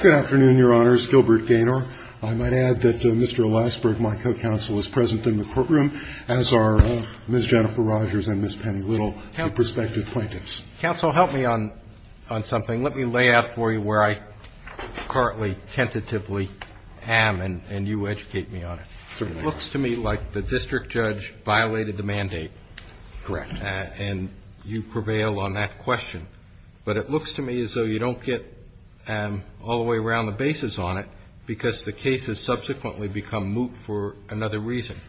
Good afternoon, Your Honors. Gilbert Gaynor. I might add that Mr. Eliasberg, my co-counsel, is present in the courtroom, as are Ms. Jennifer Rogers and Ms. Penny Little, the prospective plaintiffs. Counsel, help me on something. Let me lay out for you where I currently tentatively am, and you educate me on it. Certainly. It looks to me like the district judge violated the mandate. Correct. And you prevail on that question. But it looks to me as though you don't get all the way around the basis on it, because the case has subsequently become moot for another reason.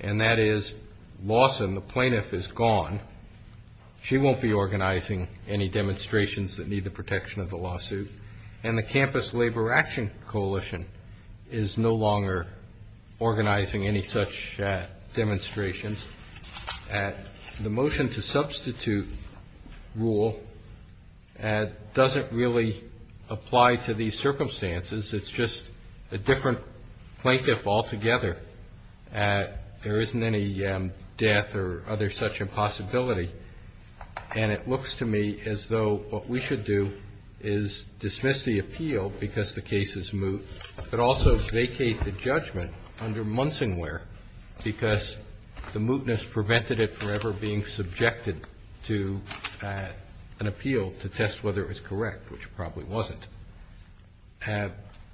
And that is Lawson, the plaintiff, is gone. She won't be organizing any demonstrations that need the protection of the lawsuit. And the Campus Labor Action Coalition is no longer organizing any such demonstrations. The motion to substitute rule doesn't really apply to these circumstances. It's just a different plaintiff altogether. There isn't any death or other such impossibility. And it looks to me as though what we should do is dismiss the appeal because the case is moot, but also vacate the judgment under Munsingware, because the mootness prevented it from ever being subjected to an appeal to test whether it was correct, which it probably wasn't.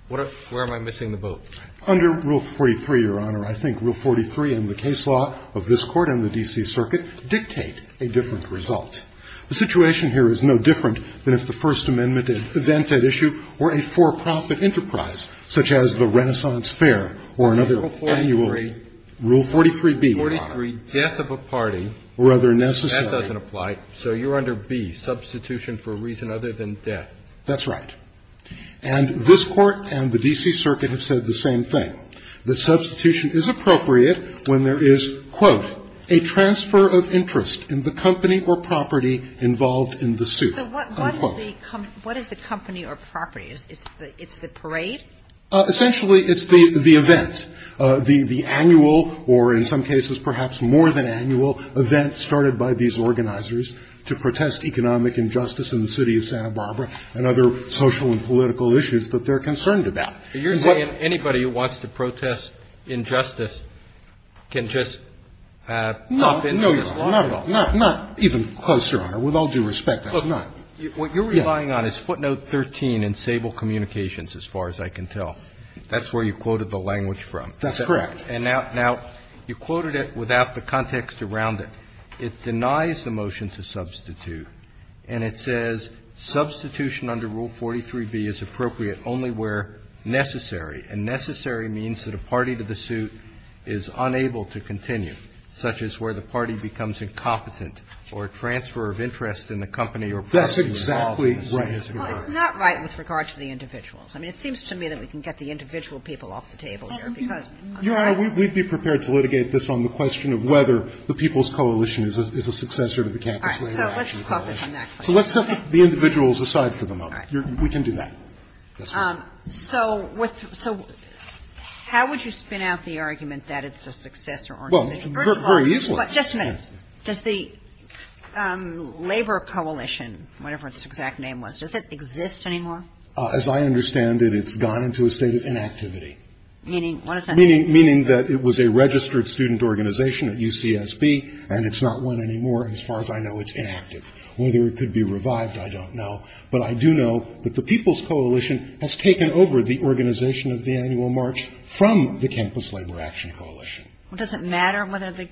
Where am I missing the boat? Under Rule 43, Your Honor, I think Rule 43 and the case law of this Court and the D.C. Circuit dictate a different result. The situation here is no different than if the First Amendment event at issue were a for-profit enterprise, such as the Renaissance Fair or another annual rule. Rule 43B, Your Honor. Rule 43, death of a party. Rather necessary. That doesn't apply. So you're under B, substitution for a reason other than death. That's right. And this Court and the D.C. Circuit have said the same thing. The substitution is appropriate when there is, quote, a transfer of interest in the company or property involved in the suit, unquote. So what is the company or property? It's the parade? Essentially, it's the events, the annual or in some cases perhaps more than annual event started by these organizers to protest economic injustice in the city of Santa Barbara and other social and political issues that they're concerned about. You're saying anybody who wants to protest injustice can just pop in? No, Your Honor. Not at all. Not even close, Your Honor. With all due respect. Look, what you're relying on is footnote 13 in Sable Communications, as far as I can tell. That's where you quoted the language from. That's correct. And now you quoted it without the context around it. It denies the motion to substitute, and it says substitution under Rule 43b is appropriate only where necessary, and necessary means that a party to the suit is unable to continue, such as where the party becomes incompetent or a transfer of interest in the company or property involved in the suit. That's exactly right. Well, it's not right with regard to the individuals. I mean, it seems to me that we can get the individual people off the table here, because I'm sorry. Your Honor, we'd be prepared to litigate this on the question of whether the People's Coalition is a successor to the Campus Labor Act. All right. So let's focus on that question. So let's set the individuals aside for the moment. All right. We can do that. That's fine. So with the – so how would you spin out the argument that it's a successor organization? Well, very easily. But just a minute. Does the Labor Coalition, whatever its exact name was, does it exist anymore? As I understand it, it's gone into a state of inactivity. Meaning what does that mean? Meaning that it was a registered student organization at UCSB, and it's not one anymore as far as I know. It's inactive. Whether it could be revived, I don't know. But I do know that the People's Coalition has taken over the organization of the annual march from the Campus Labor Action Coalition. Well, does it matter whether the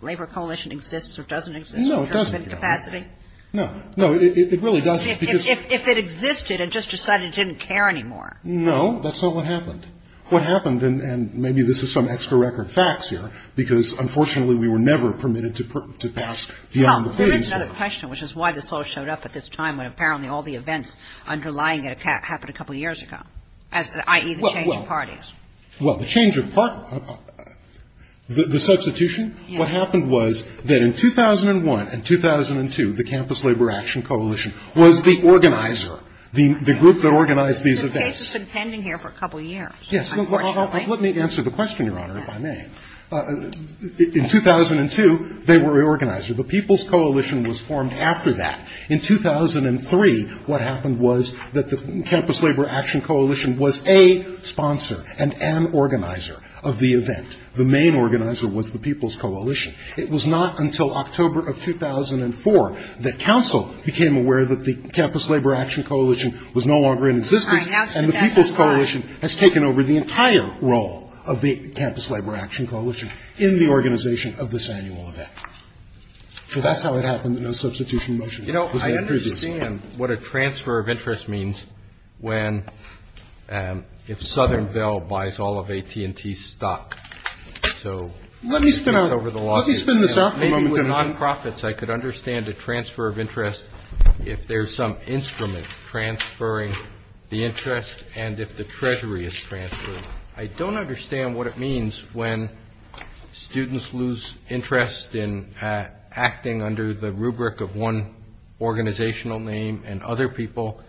Labor Coalition exists or doesn't exist? No, it doesn't. Because of incapacity? No. No, it really doesn't, because – If it existed and just decided it didn't care anymore. No. That's not what happened. What happened – and maybe this is some extra record facts here, because unfortunately we were never permitted to pass beyond the page. Well, there is another question, which is why this all showed up at this time when apparently all the events underlying it happened a couple years ago, i.e., the change of parties. Well, the change of – the substitution? Yes. What happened was that in 2001 and 2002, the Campus Labor Action Coalition was the organizer, the group that organized these events. The case has been pending here for a couple years, unfortunately. Yes. Let me answer the question, Your Honor, if I may. In 2002, they were the organizer. The People's Coalition was formed after that. In 2003, what happened was that the Campus Labor Action Coalition was a sponsor and an organizer of the event. The main organizer was the People's Coalition. It was not until October of 2004 that counsel became aware that the Campus Labor Action Coalition was no longer in existence. And the People's Coalition has taken over the entire role of the Campus Labor Action Coalition in the organization of this annual event. So that's how it happened, the no substitution motion. You know, I understand what a transfer of interest means when – if Southernville buys all of AT&T's stock. So let me spin over the law. Let me spin this up for a moment. Maybe with nonprofits, I could understand a transfer of interest if there's some instrument transferring the interest and if the treasury is transferred. I don't understand what it means when students lose interest in acting under the rubric of one organizational name and other people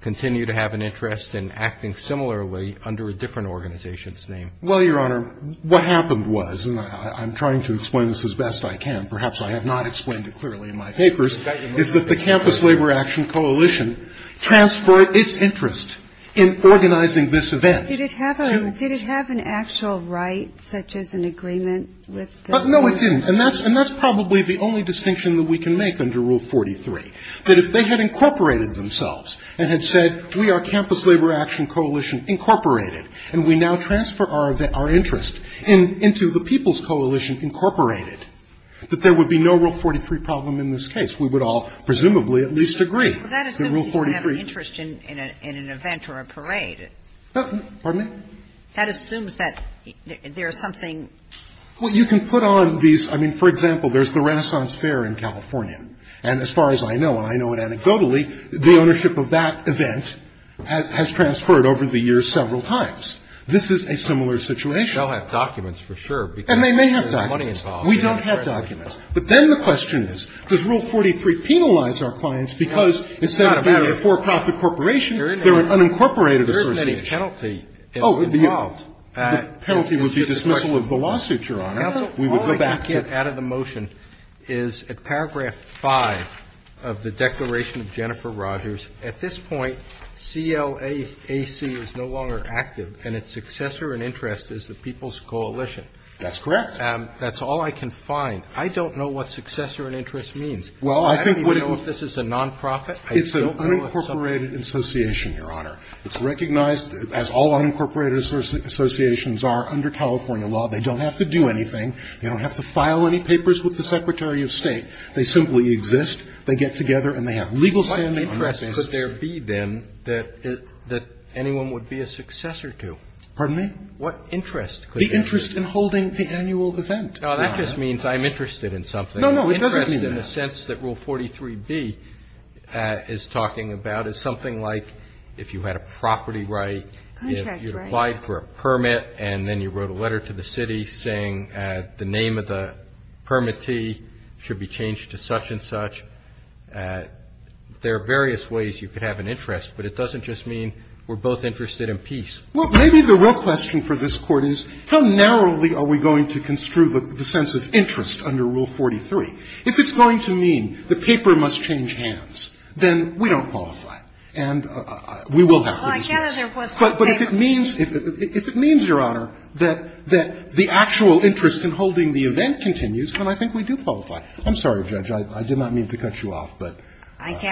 continue to have an interest in acting similarly under a different organization's name. Well, Your Honor, what happened was – and I'm trying to explain this as best I can. Perhaps I have not explained it clearly in my papers. The transfer of interest is that the Campus Labor Action Coalition transferred its interest in organizing this event. Did it have an actual right such as an agreement with the – No, it didn't. And that's probably the only distinction that we can make under Rule 43. That if they had incorporated themselves and had said we are Campus Labor Action Coalition Incorporated and we now transfer our interest into the People's Coalition Incorporated, that there would be no Rule 43 problem in this case. We would all presumably at least agree that Rule 43 – Well, that assumes you don't have an interest in an event or a parade. Pardon me? That assumes that there is something – Well, you can put on these – I mean, for example, there's the Renaissance Fair in California. And as far as I know, and I know it anecdotally, the ownership of that event has transferred over the years several times. This is a similar situation. They'll have documents for sure because there's money involved. We don't have documents. But then the question is, does Rule 43 penalize our clients because instead of being a for-profit corporation, they're an unincorporated association? There isn't any penalty involved. The penalty would be dismissal of the lawsuit, Your Honor. We would go back to – Now, the point you get out of the motion is at paragraph 5 of the Declaration of Jennifer Rogers, at this point, CLAC is no longer active, and its successor and interest is the People's Coalition. That's correct. That's all I can find. I don't know what successor and interest means. I don't even know if this is a non-profit. I don't know if it's a – It's an unincorporated association, Your Honor. It's recognized as all unincorporated associations are under California law. They don't have to do anything. They don't have to file any papers with the Secretary of State. They simply exist. They get together and they have legal standing on this issue. What interest could there be, then, that anyone would be a successor to? Pardon me? What interest could there be? The interest in holding the annual event. No, that just means I'm interested in something. No, no, it doesn't mean that. The interest, in a sense, that Rule 43b is talking about is something like if you had a property right, if you applied for a permit and then you wrote a letter to the city saying the name of the permittee should be changed to such and such, there are various ways you could have an interest, but it doesn't just mean we're both interested in peace. Well, maybe the real question for this Court is, how narrowly are we going to construe the sense of interest under Rule 43? If it's going to mean the paper must change hands, then we don't qualify. And we will have to dismiss it. Well, I gather there was some paper. But if it means, if it means, Your Honor, that the actual interest in holding the event continues, then I think we do qualify. I'm sorry, Judge, I did not mean to cut you off, but you're right.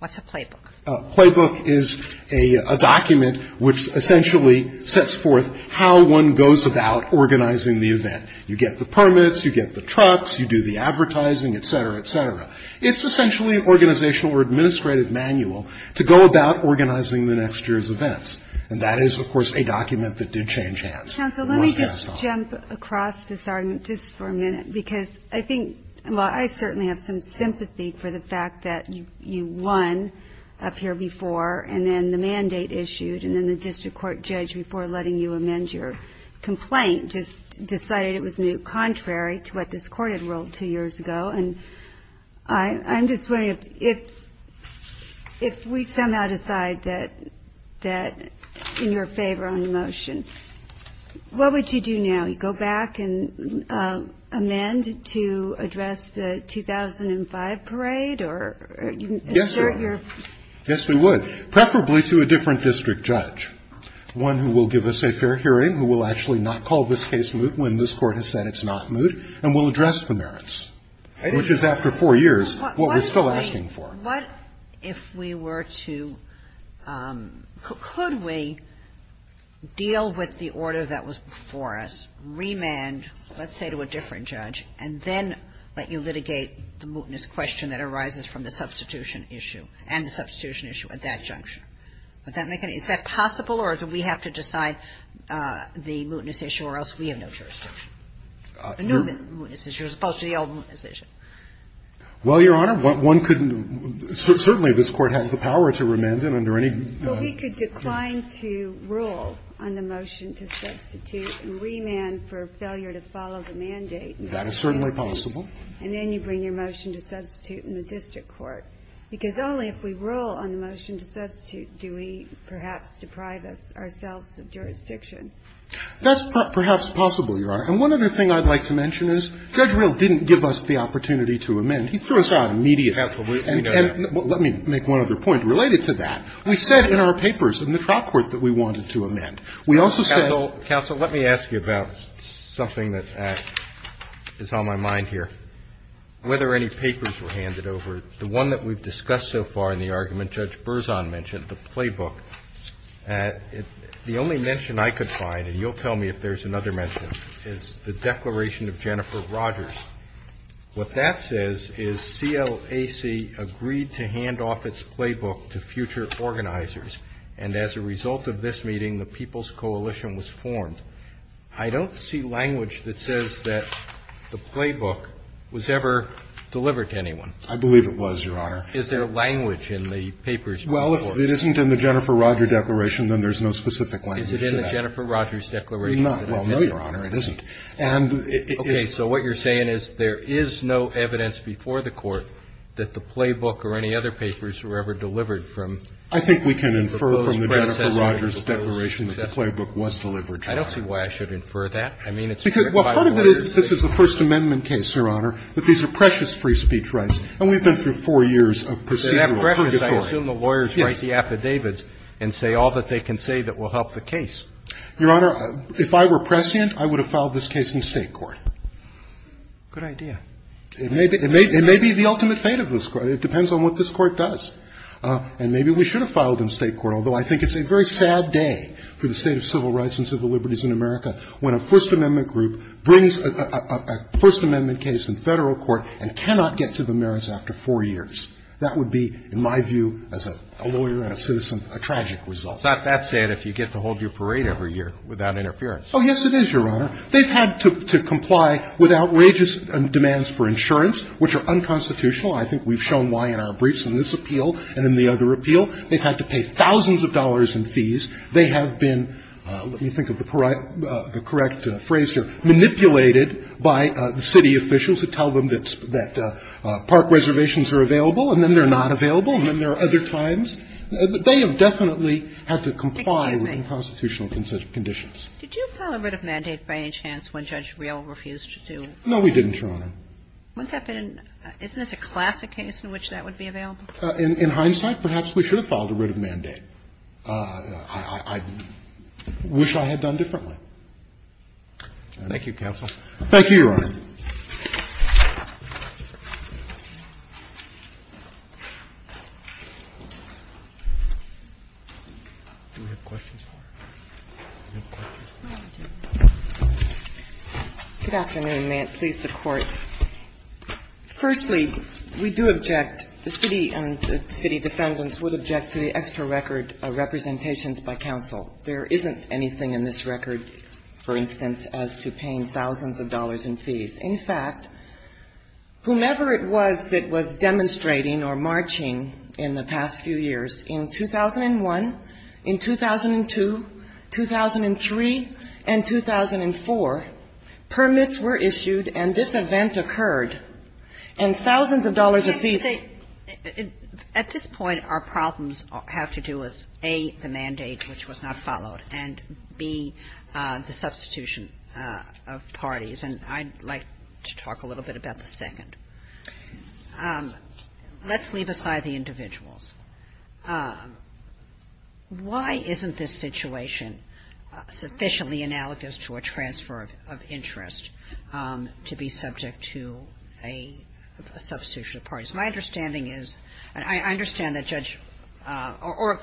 What's a playbook? A playbook is a document which essentially sets forth how one goes about organizing the event. You get the permits. You get the trucks. You do the advertising, et cetera, et cetera. It's essentially an organizational or administrative manual to go about organizing the next year's events. And that is, of course, a document that did change hands. Counsel, let me just jump across this argument just for a minute, because I think I certainly have some sympathy for the fact that you won up here before, and then the mandate issued, and then the district court judge, before letting you amend your complaint, just decided it was contrary to what this court had ruled two years ago. And I'm just wondering, if we somehow decide that in your favor on the motion, what would you do now? Would we go back and amend to address the 2005 parade, or insert your ---- Yes, we would. Yes, we would, preferably to a different district judge, one who will give us a fair hearing, who will actually not call this case moot when this Court has said it's not moot, and will address the merits, which is, after four years, what we're still asking for. So what if we were to ---- could we deal with the order that was before us, remand, let's say, to a different judge, and then let you litigate the mootness question that arises from the substitution issue, and the substitution issue at that junction? Would that make any ---- is that possible, or do we have to decide the mootness issue, or else we have no jurisdiction? The new mootness issue, as opposed to the old mootness issue. Well, Your Honor, one couldn't ---- certainly this Court has the power to remand it under any ---- Well, we could decline to rule on the motion to substitute and remand for failure to follow the mandate. That is certainly possible. And then you bring your motion to substitute in the district court. Because only if we rule on the motion to substitute do we perhaps deprive ourselves of jurisdiction. That's perhaps possible, Your Honor. And one other thing I'd like to mention is Judge Rehl didn't give us the opportunity to amend. He threw us out immediately. And let me make one other point related to that. We said in our papers in the trial court that we wanted to amend. We also said ---- Counsel, let me ask you about something that is on my mind here. Whether any papers were handed over, the one that we've discussed so far in the argument Judge Berzon mentioned, the playbook, the only mention I could find, and you'll tell me if there's another mention, is the declaration of Jennifer Rogers. What that says is CLAC agreed to hand off its playbook to future organizers. And as a result of this meeting, the People's Coalition was formed. I don't see language that says that the playbook was ever delivered to anyone. I believe it was, Your Honor. Is there language in the papers? Well, if it isn't in the Jennifer Rogers declaration, then there's no specific language to that. Well, no, Your Honor. It isn't. And it is ---- Okay. So what you're saying is there is no evidence before the Court that the playbook or any other papers were ever delivered from ---- I think we can infer from the Jennifer Rogers declaration that the playbook was delivered, Your Honor. I don't see why I should infer that. I mean, it's ---- Well, part of it is that this is a First Amendment case, Your Honor, that these are precious free speech rights. And we've been through four years of procedural purgatory. And that precious, I assume the lawyers write the affidavits and say all that they can say that will help the case. Your Honor, if I were prescient, I would have filed this case in State court. Good idea. It may be the ultimate fate of this Court. It depends on what this Court does. And maybe we should have filed in State court, although I think it's a very sad day for the State of civil rights and civil liberties in America when a First Amendment group brings a First Amendment case in Federal court and cannot get to the merits after four years. That would be, in my view, as a lawyer and a citizen, a tragic result. It's not that sad if you get to hold your parade every year without interference. Oh, yes, it is, Your Honor. They've had to comply with outrageous demands for insurance, which are unconstitutional. I think we've shown why in our briefs in this appeal and in the other appeal. They've had to pay thousands of dollars in fees. They have been, let me think of the correct phrase here, manipulated by the city officials who tell them that park reservations are available, and then they're not available, and then there are other times. They have definitely had to comply with unconstitutional conditions. Did you file a writ of mandate by any chance when Judge Reel refused to do? No, we didn't, Your Honor. Isn't this a classic case in which that would be available? In hindsight, perhaps we should have filed a writ of mandate. I wish I had done differently. Thank you, counsel. Thank you, Your Honor. Do we have questions for her? Do we have questions for her? Good afternoon. May it please the Court. Firstly, we do object, the city and the city defendants would object to the extra record of representations by counsel. There isn't anything in this record, for instance, as to paying thousands of dollars in fees. In fact, whomever it was that was demonstrating or marching in the past few years, in 2001, in 2002, 2003, and 2004, permits were issued and this event occurred, was A, the mandate which was not followed, and B, the substitution of parties. And I'd like to talk a little bit about the second. Let's leave aside the individuals. Why isn't this situation sufficiently analogous to a transfer of interest to be subject to a substitution of parties? My understanding is, and I understand that Judge, or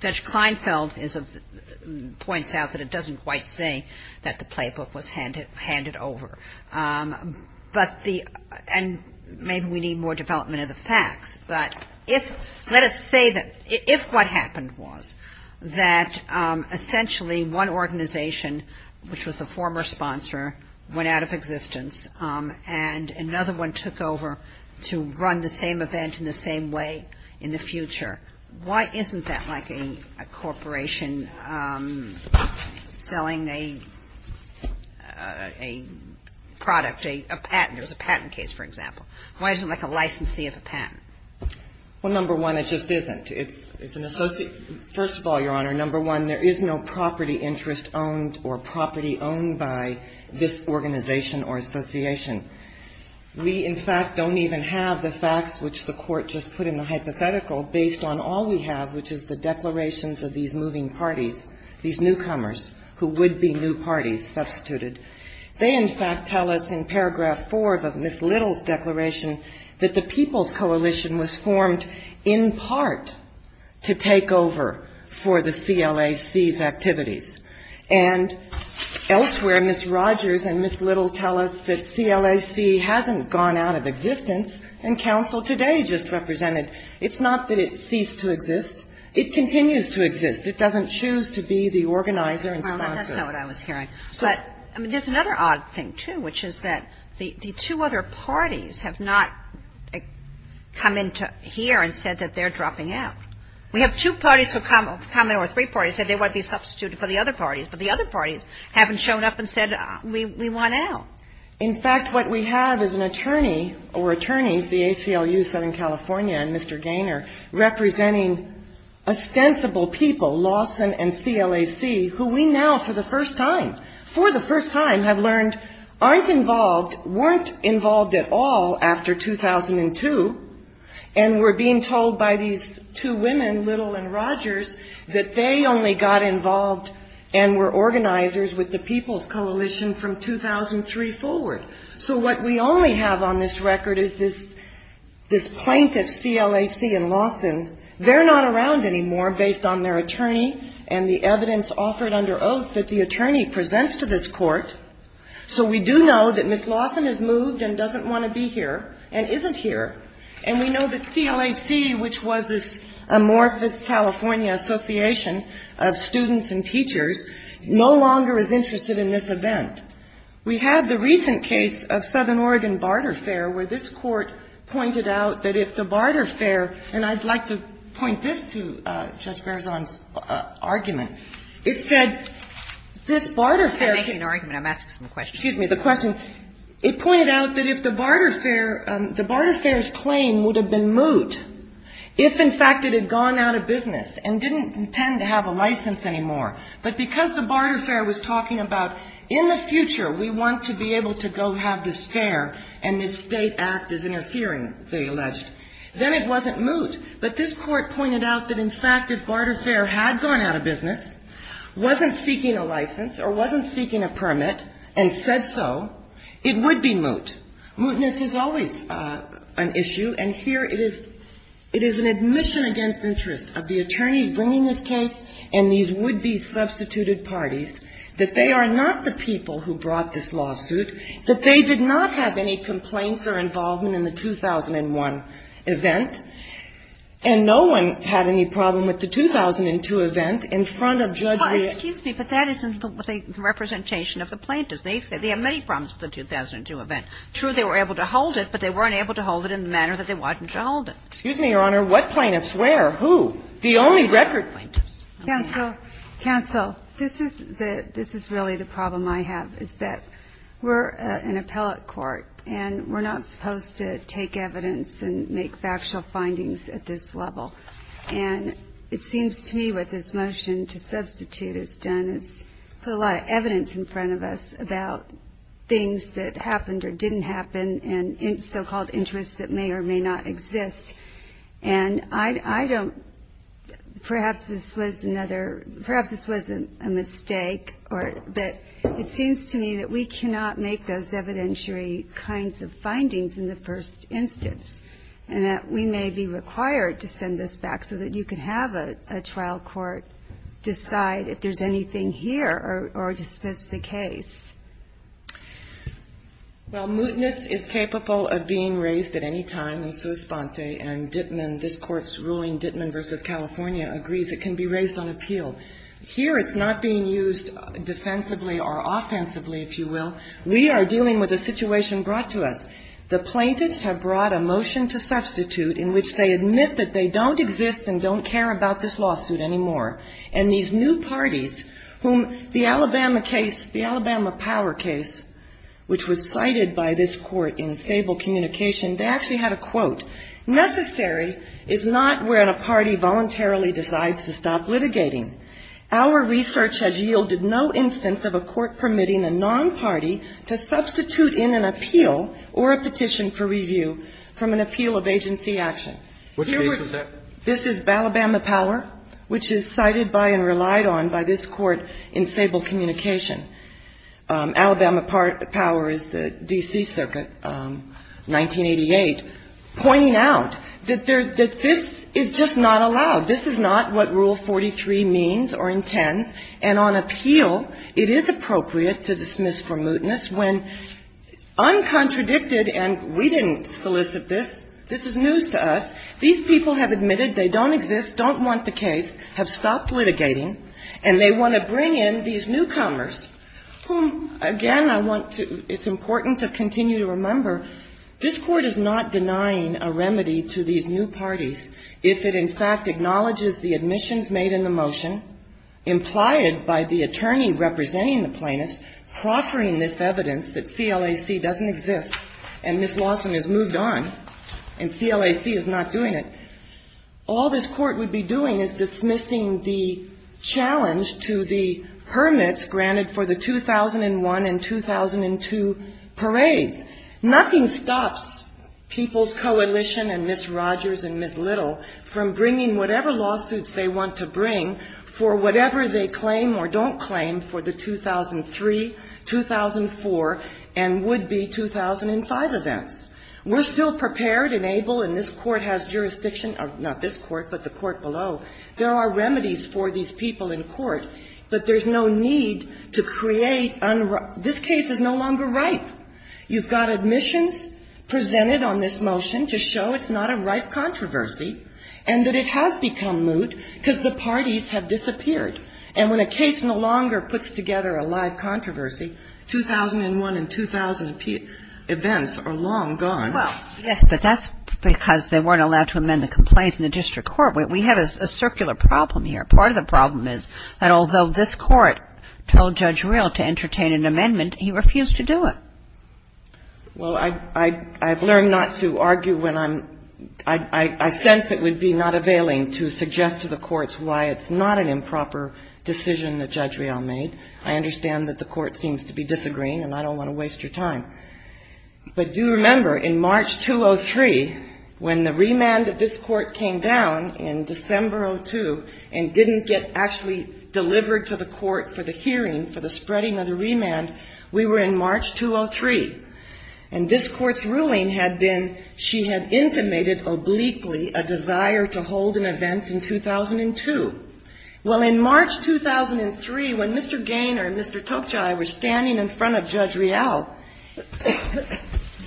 Judge Kleinfeld points out that it doesn't quite say that the playbook was handed over. But the, and maybe we need more development of the facts, but if, let us say that if what happened was that essentially one organization, which was the former sponsor, went out of existence and another one took over to run the same event in the same way in the future, why isn't that like a corporation selling a product, a patent? It was a patent case, for example. Why isn't it like a licensee of a patent? Well, number one, it just isn't. It's an associate, first of all, Your Honor, number one, there is no property interest owned or property owned by this organization or association. We, in fact, don't even have the facts which the Court just put in the hypothetical based on all we have, which is the declarations of these moving parties, these newcomers who would be new parties substituted. They, in fact, tell us in paragraph four of Ms. Little's declaration that the People's Coalition was formed in part to take over for the CLAC's activities. And elsewhere, Ms. Rogers and Ms. Little tell us that CLAC hasn't gone out of existence and counsel today just represented. It's not that it ceased to exist. It continues to exist. It doesn't choose to be the organizer and sponsor. Well, that's not what I was hearing. But there's another odd thing, too, which is that the two other parties have not come in here and said that they're dropping out. We have two parties who have come in, or three parties, said they want to be substituted for the other parties. But the other parties haven't shown up and said we want out. In fact, what we have is an attorney or attorneys, the ACLU of Southern California and Mr. Gaynor, representing ostensible people, Lawson and CLAC, who we now for the first time have learned aren't involved, weren't involved at all after 2002 and were being told by these two women, Little and Rogers, that they only got involved and were organizers with the People's Coalition from 2003 forward. So what we only have on this record is this plaintiff, CLAC and Lawson, they're not around anymore based on their attorney and the evidence offered under oath that the attorney presents to this court. So we do know that Ms. Lawson has moved and doesn't want to be here and isn't here. And we know that CLAC, which was this amorphous California association of students and teachers, no longer is interested in this event. We have the recent case of Southern Oregon barter fair where this court pointed out that if the barter fair, and I'd like to point this to Judge Berzon's argument. It said, this barter fair can be the question. It pointed out that if the barter fair, the barter fair's claim would have been moot if, in fact, it had gone out of business and didn't intend to have a license anymore. But because the barter fair was talking about in the future we want to be able to go have this fair and this state act is interfering, they alleged, then it wasn't moot. But this court pointed out that, in fact, if barter fair had gone out of business, wasn't seeking a license or wasn't seeking a permit and said so, it would be moot. Mootness is always an issue, and here it is an admission against interest of the attorneys bringing this case and these would-be substituted parties that they are not the people who brought this lawsuit, that they did not have any complaints or involvement in the 2001 event. And no one had any problem with the 2002 event in front of Judge Rea. Well, excuse me, but that isn't the representation of the plaintiffs. They have many problems with the 2002 event. True, they were able to hold it, but they weren't able to hold it in the manner that they wanted to hold it. Excuse me, Your Honor. What plaintiffs? The only record plaintiffs. Counsel, this is really the problem I have, is that we're an appellate court, and we're not supposed to take evidence and make factual findings at this level. And it seems to me what this motion to substitute has done is put a lot of evidence in front of us about things that happened or didn't happen and so-called interests that may or may not exist. And I don't – perhaps this was another – perhaps this was a mistake, but it seems to me that we cannot make those evidentiary kinds of findings in the first instance, and that we may be required to send this back so that you can have a trial court decide if there's anything here or dismiss the case. Well, mootness is capable of being raised at any time in sua sponte, and this Court's ruling, Dittman v. California, agrees it can be raised on appeal. Here it's not being used defensively or offensively, if you will. We are dealing with a situation brought to us. The plaintiffs have brought a motion to substitute in which they admit that they don't exist and don't care about this lawsuit anymore. And these new parties whom the Alabama case, the Alabama Power case, which was cited by this Court in Sable Communication, they actually had a quote. Necessary is not when a party voluntarily decides to stop litigating. Our research has yielded no instance of a court permitting a non-party to substitute in an appeal or a petition for review from an appeal of agency action. Which case is that? This is Alabama Power, which is cited by and relied on by this Court in Sable Communication. Alabama Power is the D.C. Circuit, 1988, pointing out that this is just not allowed. This is not what Rule 43 means or intends. And on appeal, it is appropriate to dismiss for mootness when uncontradicted and we didn't solicit this. This is news to us. These people have admitted they don't exist, don't want the case, have stopped litigating, and they want to bring in these newcomers whom, again, I want to ‑‑ it's important to continue to remember this Court is not denying a remedy to these new parties if it in fact acknowledges the admissions made in the motion, implied by the attorney representing the plaintiffs, proffering this evidence that CLAC doesn't exist and Ms. Lawson has moved on and CLAC is not doing it. All this Court would be doing is dismissing the challenge to the hermits granted for the 2001 and 2002 parades. Nothing stops People's Coalition and Ms. Rogers and Ms. Little from bringing whatever lawsuits they want to bring for whatever they claim or don't claim for the 2003, 2004, and would-be 2005 events. We're still prepared and able, and this Court has jurisdiction ‑‑ not this Court, but the Court below. There are remedies for these people in court, but there's no need to create un‑‑ this case is no longer ripe. You've got admissions presented on this motion to show it's not a ripe controversy and that it has become moot because the parties have disappeared. And when a case no longer puts together a live controversy, 2001 and 2000 events are long gone. Well, yes, but that's because they weren't allowed to amend the complaints in the district court. We have a circular problem here. Part of the problem is that although this Court told Judge Reel to entertain an amendment, he refused to do it. Well, I've learned not to argue when I'm ‑‑ I sense it would be not availing to suggest to the courts why it's not an improper decision that Judge Reel made. I understand that the Court seems to be disagreeing, and I don't want to waste your time. But do remember, in March 2003, when the remand of this Court came down in December 2002 and didn't get actually delivered to the Court for the hearing for the spreading of the remand, we were in March 2003. And this Court's ruling had been she had intimated obliquely a desire to hold an event in 2002. Well, in March 2003, when Mr. Gaynor and Mr. Tokjai were standing in front of Judge Reel,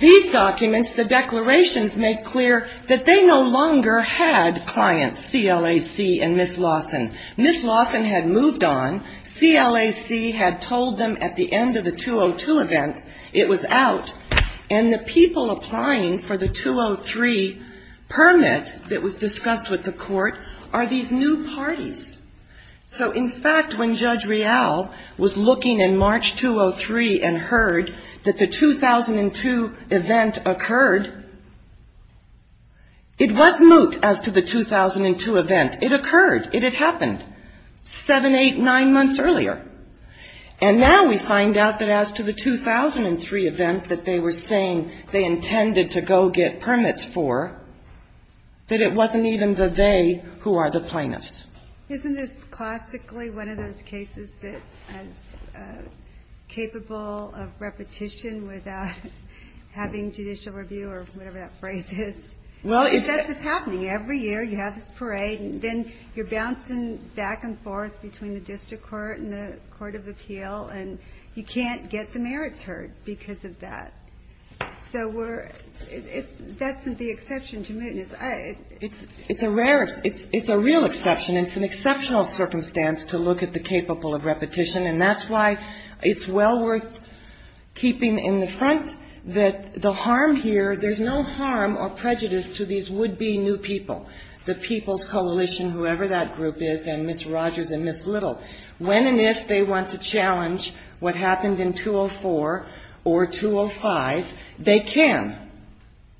these documents, the declarations, make clear that they no longer had clients, CLAC and Ms. Lawson. Ms. Lawson had moved on, CLAC had told them at the end of the 2002 event it was out, and the people applying for the 2003 permit that was discussed with the Court are these new parties. So, in fact, when Judge Reel was looking in March 2003 and heard that the 2002 event occurred, it was moot as to the 2002 event. It occurred. It had happened seven, eight, nine months earlier. And now we find out that as to the 2003 event that they were saying they intended to go get permits for, that it wasn't even the they who are the plaintiffs. Isn't this classically one of those cases that is capable of repetition without having judicial review or whatever that phrase is? That's what's happening. Every year you have this parade, and then you're bouncing back and forth between the district court and the court of appeal, and you can't get the merits heard because of that. So we're — that's the exception to mootness. It's a rare — it's a real exception. It's an exceptional circumstance to look at the capable of repetition, and that's why it's well worth keeping in the front that the harm here, there's no harm or prejudice to these would-be new people, the People's Coalition, whoever that group is, and Ms. Rogers and Ms. Little. When and if they want to challenge what happened in 204 or 205, they can.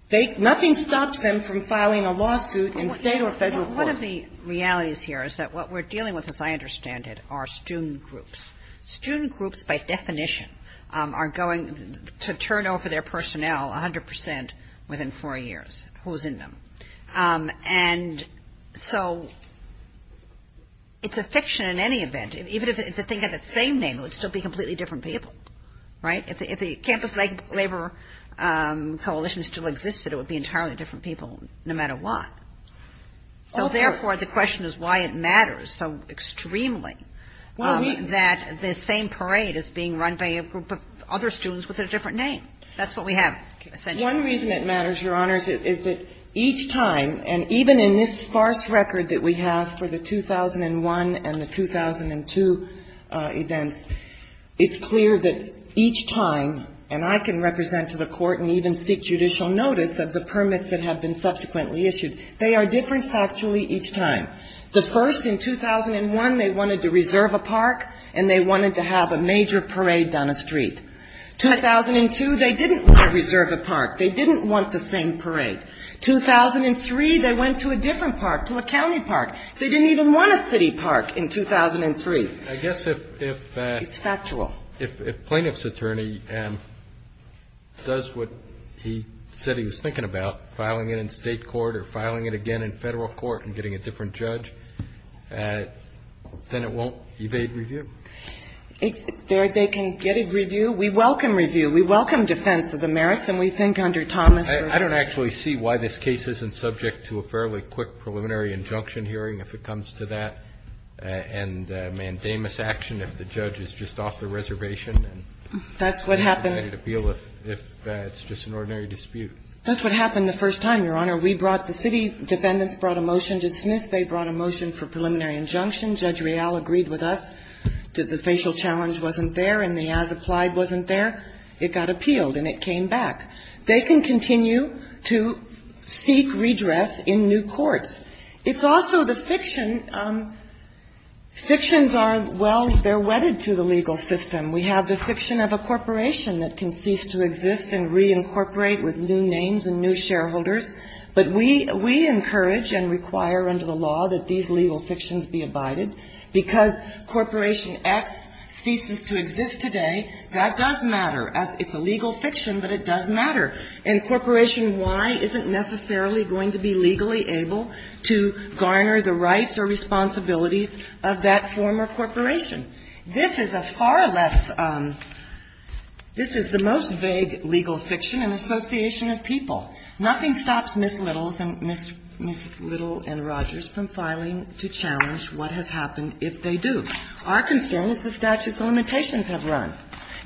They — nothing stops them from filing a lawsuit in State or Federal court. Kagan. One of the realities here is that what we're dealing with, as I understand it, are student groups. Student groups, by definition, are going to turn over their personnel 100 percent within four years, who's in them. And so it's a fiction in any event. Even if the thing has the same name, it would still be completely different people, right? If the campus labor coalition still existed, it would be entirely different people no matter what. So therefore, the question is why it matters so extremely that the same parade is being run by a group of other students with a different name. That's what we have essentially. One reason it matters, Your Honors, is that each time, and even in this sparse record that we have for the 2001 and the 2002 events, it's clear that each time, and I can represent to the Court and even seek judicial notice of the permits that have been subsequently issued, they are different factually each time. The first, in 2001, they wanted to reserve a park and they wanted to have a major parade down a street. 2002, they didn't want to reserve a park. They didn't want the same parade. 2003, they went to a different park, to a county park. They didn't even want a city park in 2003. It's factual. If a plaintiff's attorney does what he said he was thinking about, filing it in State court or filing it again in Federal court and getting a different judge, then it won't evade review. They can get a review. We welcome review. We welcome defense of the merits, and we think under Thomas v. I don't actually see why this case isn't subject to a fairly quick preliminary injunction hearing if it comes to that, and mandamus action if the judge is just off the reservation. That's what happened. If it's just an ordinary dispute. That's what happened the first time, Your Honor. We brought the city defendants, brought a motion to dismiss. They brought a motion for preliminary injunction. Judge Real agreed with us that the facial challenge wasn't there and the as-applied wasn't there. It got appealed and it came back. They can continue to seek redress in new courts. It's also the fiction. Fictions are, well, they're wedded to the legal system. We have the fiction of a corporation that can cease to exist and reincorporate with new names and new shareholders. But we encourage and require under the law that these legal fictions be abided, because Corporation X ceases to exist today. That does matter. It's a legal fiction, but it does matter. And Corporation Y isn't necessarily going to be legally able to garner the rights or responsibilities of that former corporation. This is a far less – this is the most vague legal fiction, an association of people. Nothing stops Ms. Littles and Ms. Little and Rogers from filing to challenge what has happened if they do. Our concern is the statutes of limitations have run.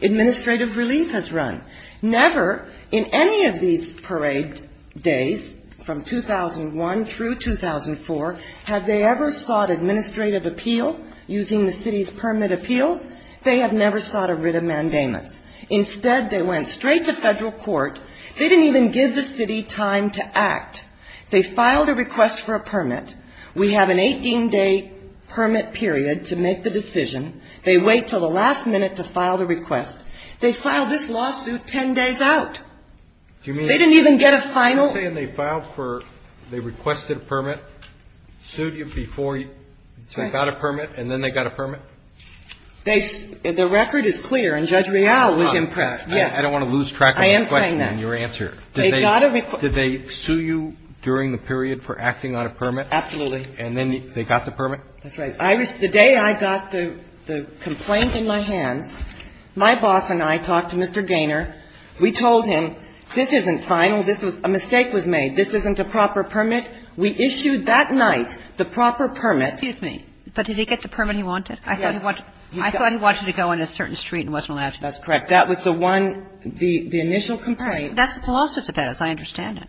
Administrative relief has run. Never in any of these parade days from 2001 through 2004 have they ever sought administrative appeal using the city's permit appeals. They have never sought a writ of mandamus. Instead, they went straight to Federal court. They didn't even give the city time to act. They filed a request for a permit. We have an 18-day permit period to make the decision. They wait until the last minute to file the request. They filed this lawsuit 10 days out. They didn't even get a final – The record is clear, and Judge Reale was impressed. Yes. I don't want to lose track of the question and your answer. They got a request. Did they sue you during the period for acting on a permit? Absolutely. And then they got the permit? That's right. The day I got the complaint in my hands, my boss and I talked to Mr. Gaynor. We told him, this isn't final. This was – a mistake was made. This isn't a proper permit. We issued that night the proper permit. Excuse me. But did he get the permit he wanted? Yes. I thought he wanted to go in a certain street and wasn't allowed to. That's correct. That was the one – the initial complaint. That's the lawsuit that has. I understand it.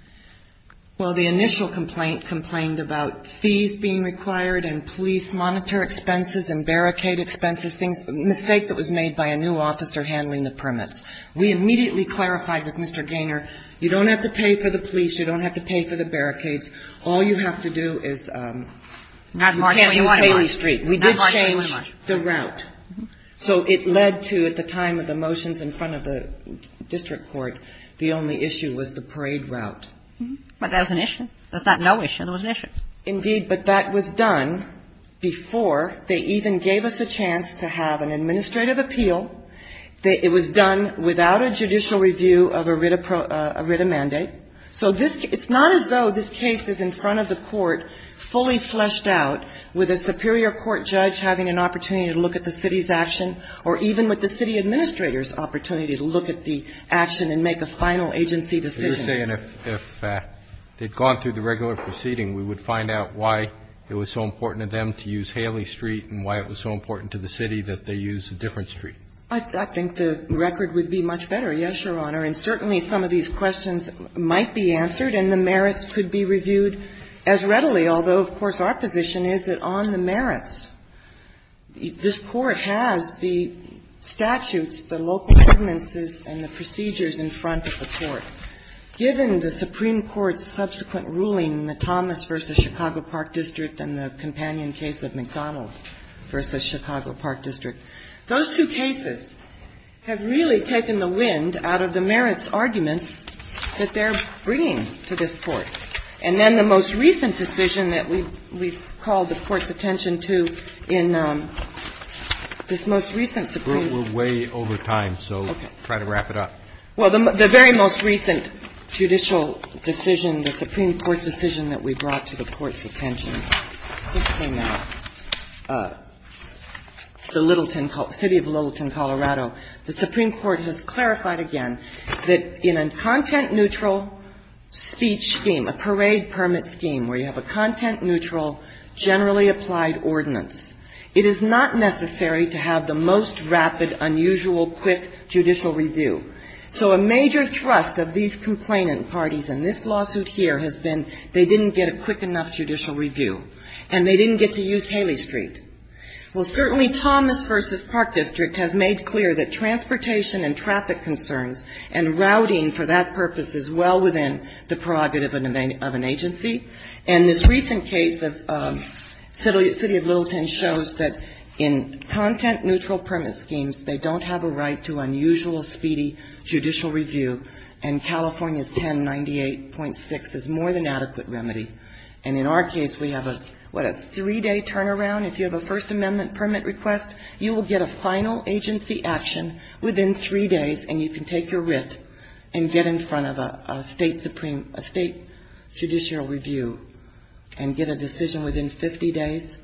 Well, the initial complaint complained about fees being required and police monitor expenses and barricade expenses, things – a mistake that was made by a new officer handling the permits. We immediately clarified with Mr. Gaynor, you don't have to pay for the police. You don't have to pay for the barricades. All you have to do is – Not March 21. Not Haley Street. Not March 21. We did change the route. So it led to, at the time of the motions in front of the district court, the only issue was the parade route. But that was an issue. That's not no issue. That was an issue. Indeed. But that was done before they even gave us a chance to have an administrative appeal. It was done without a judicial review of a writ of mandate. So this – it's not as though this case is in front of the court fully fleshed out, with a superior court judge having an opportunity to look at the city's action, or even with the city administrator's opportunity to look at the action and make a final agency decision. But you're saying if they'd gone through the regular proceeding, we would find out why it was so important to them to use Haley Street and why it was so important to the city that they use a different street? I think the record would be much better, yes, Your Honor. And certainly some of these questions might be answered and the merits could be reviewed as readily, although, of course, our position is that on the merits, this Court has the statutes, the local ordinances, and the procedures in front of the court. Given the Supreme Court's subsequent ruling, the Thomas v. Chicago Park District and the companion case of McDonald v. Chicago Park District, those two cases have really taken the wind out of the merits arguments that they're bringing to this Court. And then the most recent decision that we've called the Court's attention to in this most recent Supreme – We're way over time, so try to wrap it up. Well, the very most recent judicial decision, the Supreme Court's decision that we brought to the Court's attention, just a minute, the Littleton – city of Littleton, Colorado, the Supreme Court has clarified again that in a content-neutral speech scheme, a parade permit scheme where you have a content-neutral generally applied ordinance, it is not necessary to have the most rapid, unusual, quick judicial review. So a major thrust of these complainant parties in this lawsuit here has been they didn't get a quick enough judicial review and they didn't get to use Haley Street. Well, certainly Thomas v. Park District has made clear that transportation and traffic concerns and routing for that purpose is well within the prerogative of an agency. And this recent case of city of Littleton shows that in content-neutral permit schemes, they don't have a right to unusual, speedy judicial review. And California's 1098.6 is more than adequate remedy. And in our case, we have a, what, a three-day turnaround. If you have a First Amendment permit request, you will get a final agency action within three days and you can take your writ and get in front of a State supreme – a State judicial review and get a decision within 50 days.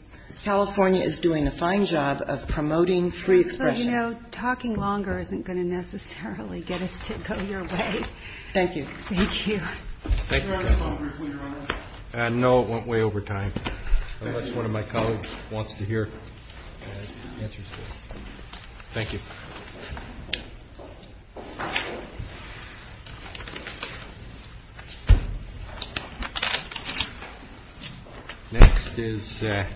California is doing a fine job of promoting free expression. So, you know, talking longer isn't going to necessarily get us to go your way. Thank you. Thank you. Thank you. No, it went way over time. Unless one of my colleagues wants to hear answers to this. Thank you. Next is Santa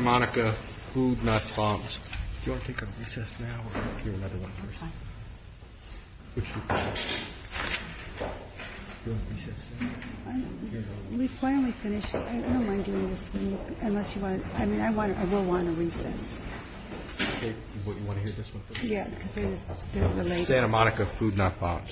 Monica food not bombs. Do you want to take a recess now or do you want to hear another one first? Okay. Do you want a recess? We finally finished. I don't mind doing this. I mean, I will want a recess. You want to hear this one first? Yeah. Santa Monica food not bombs.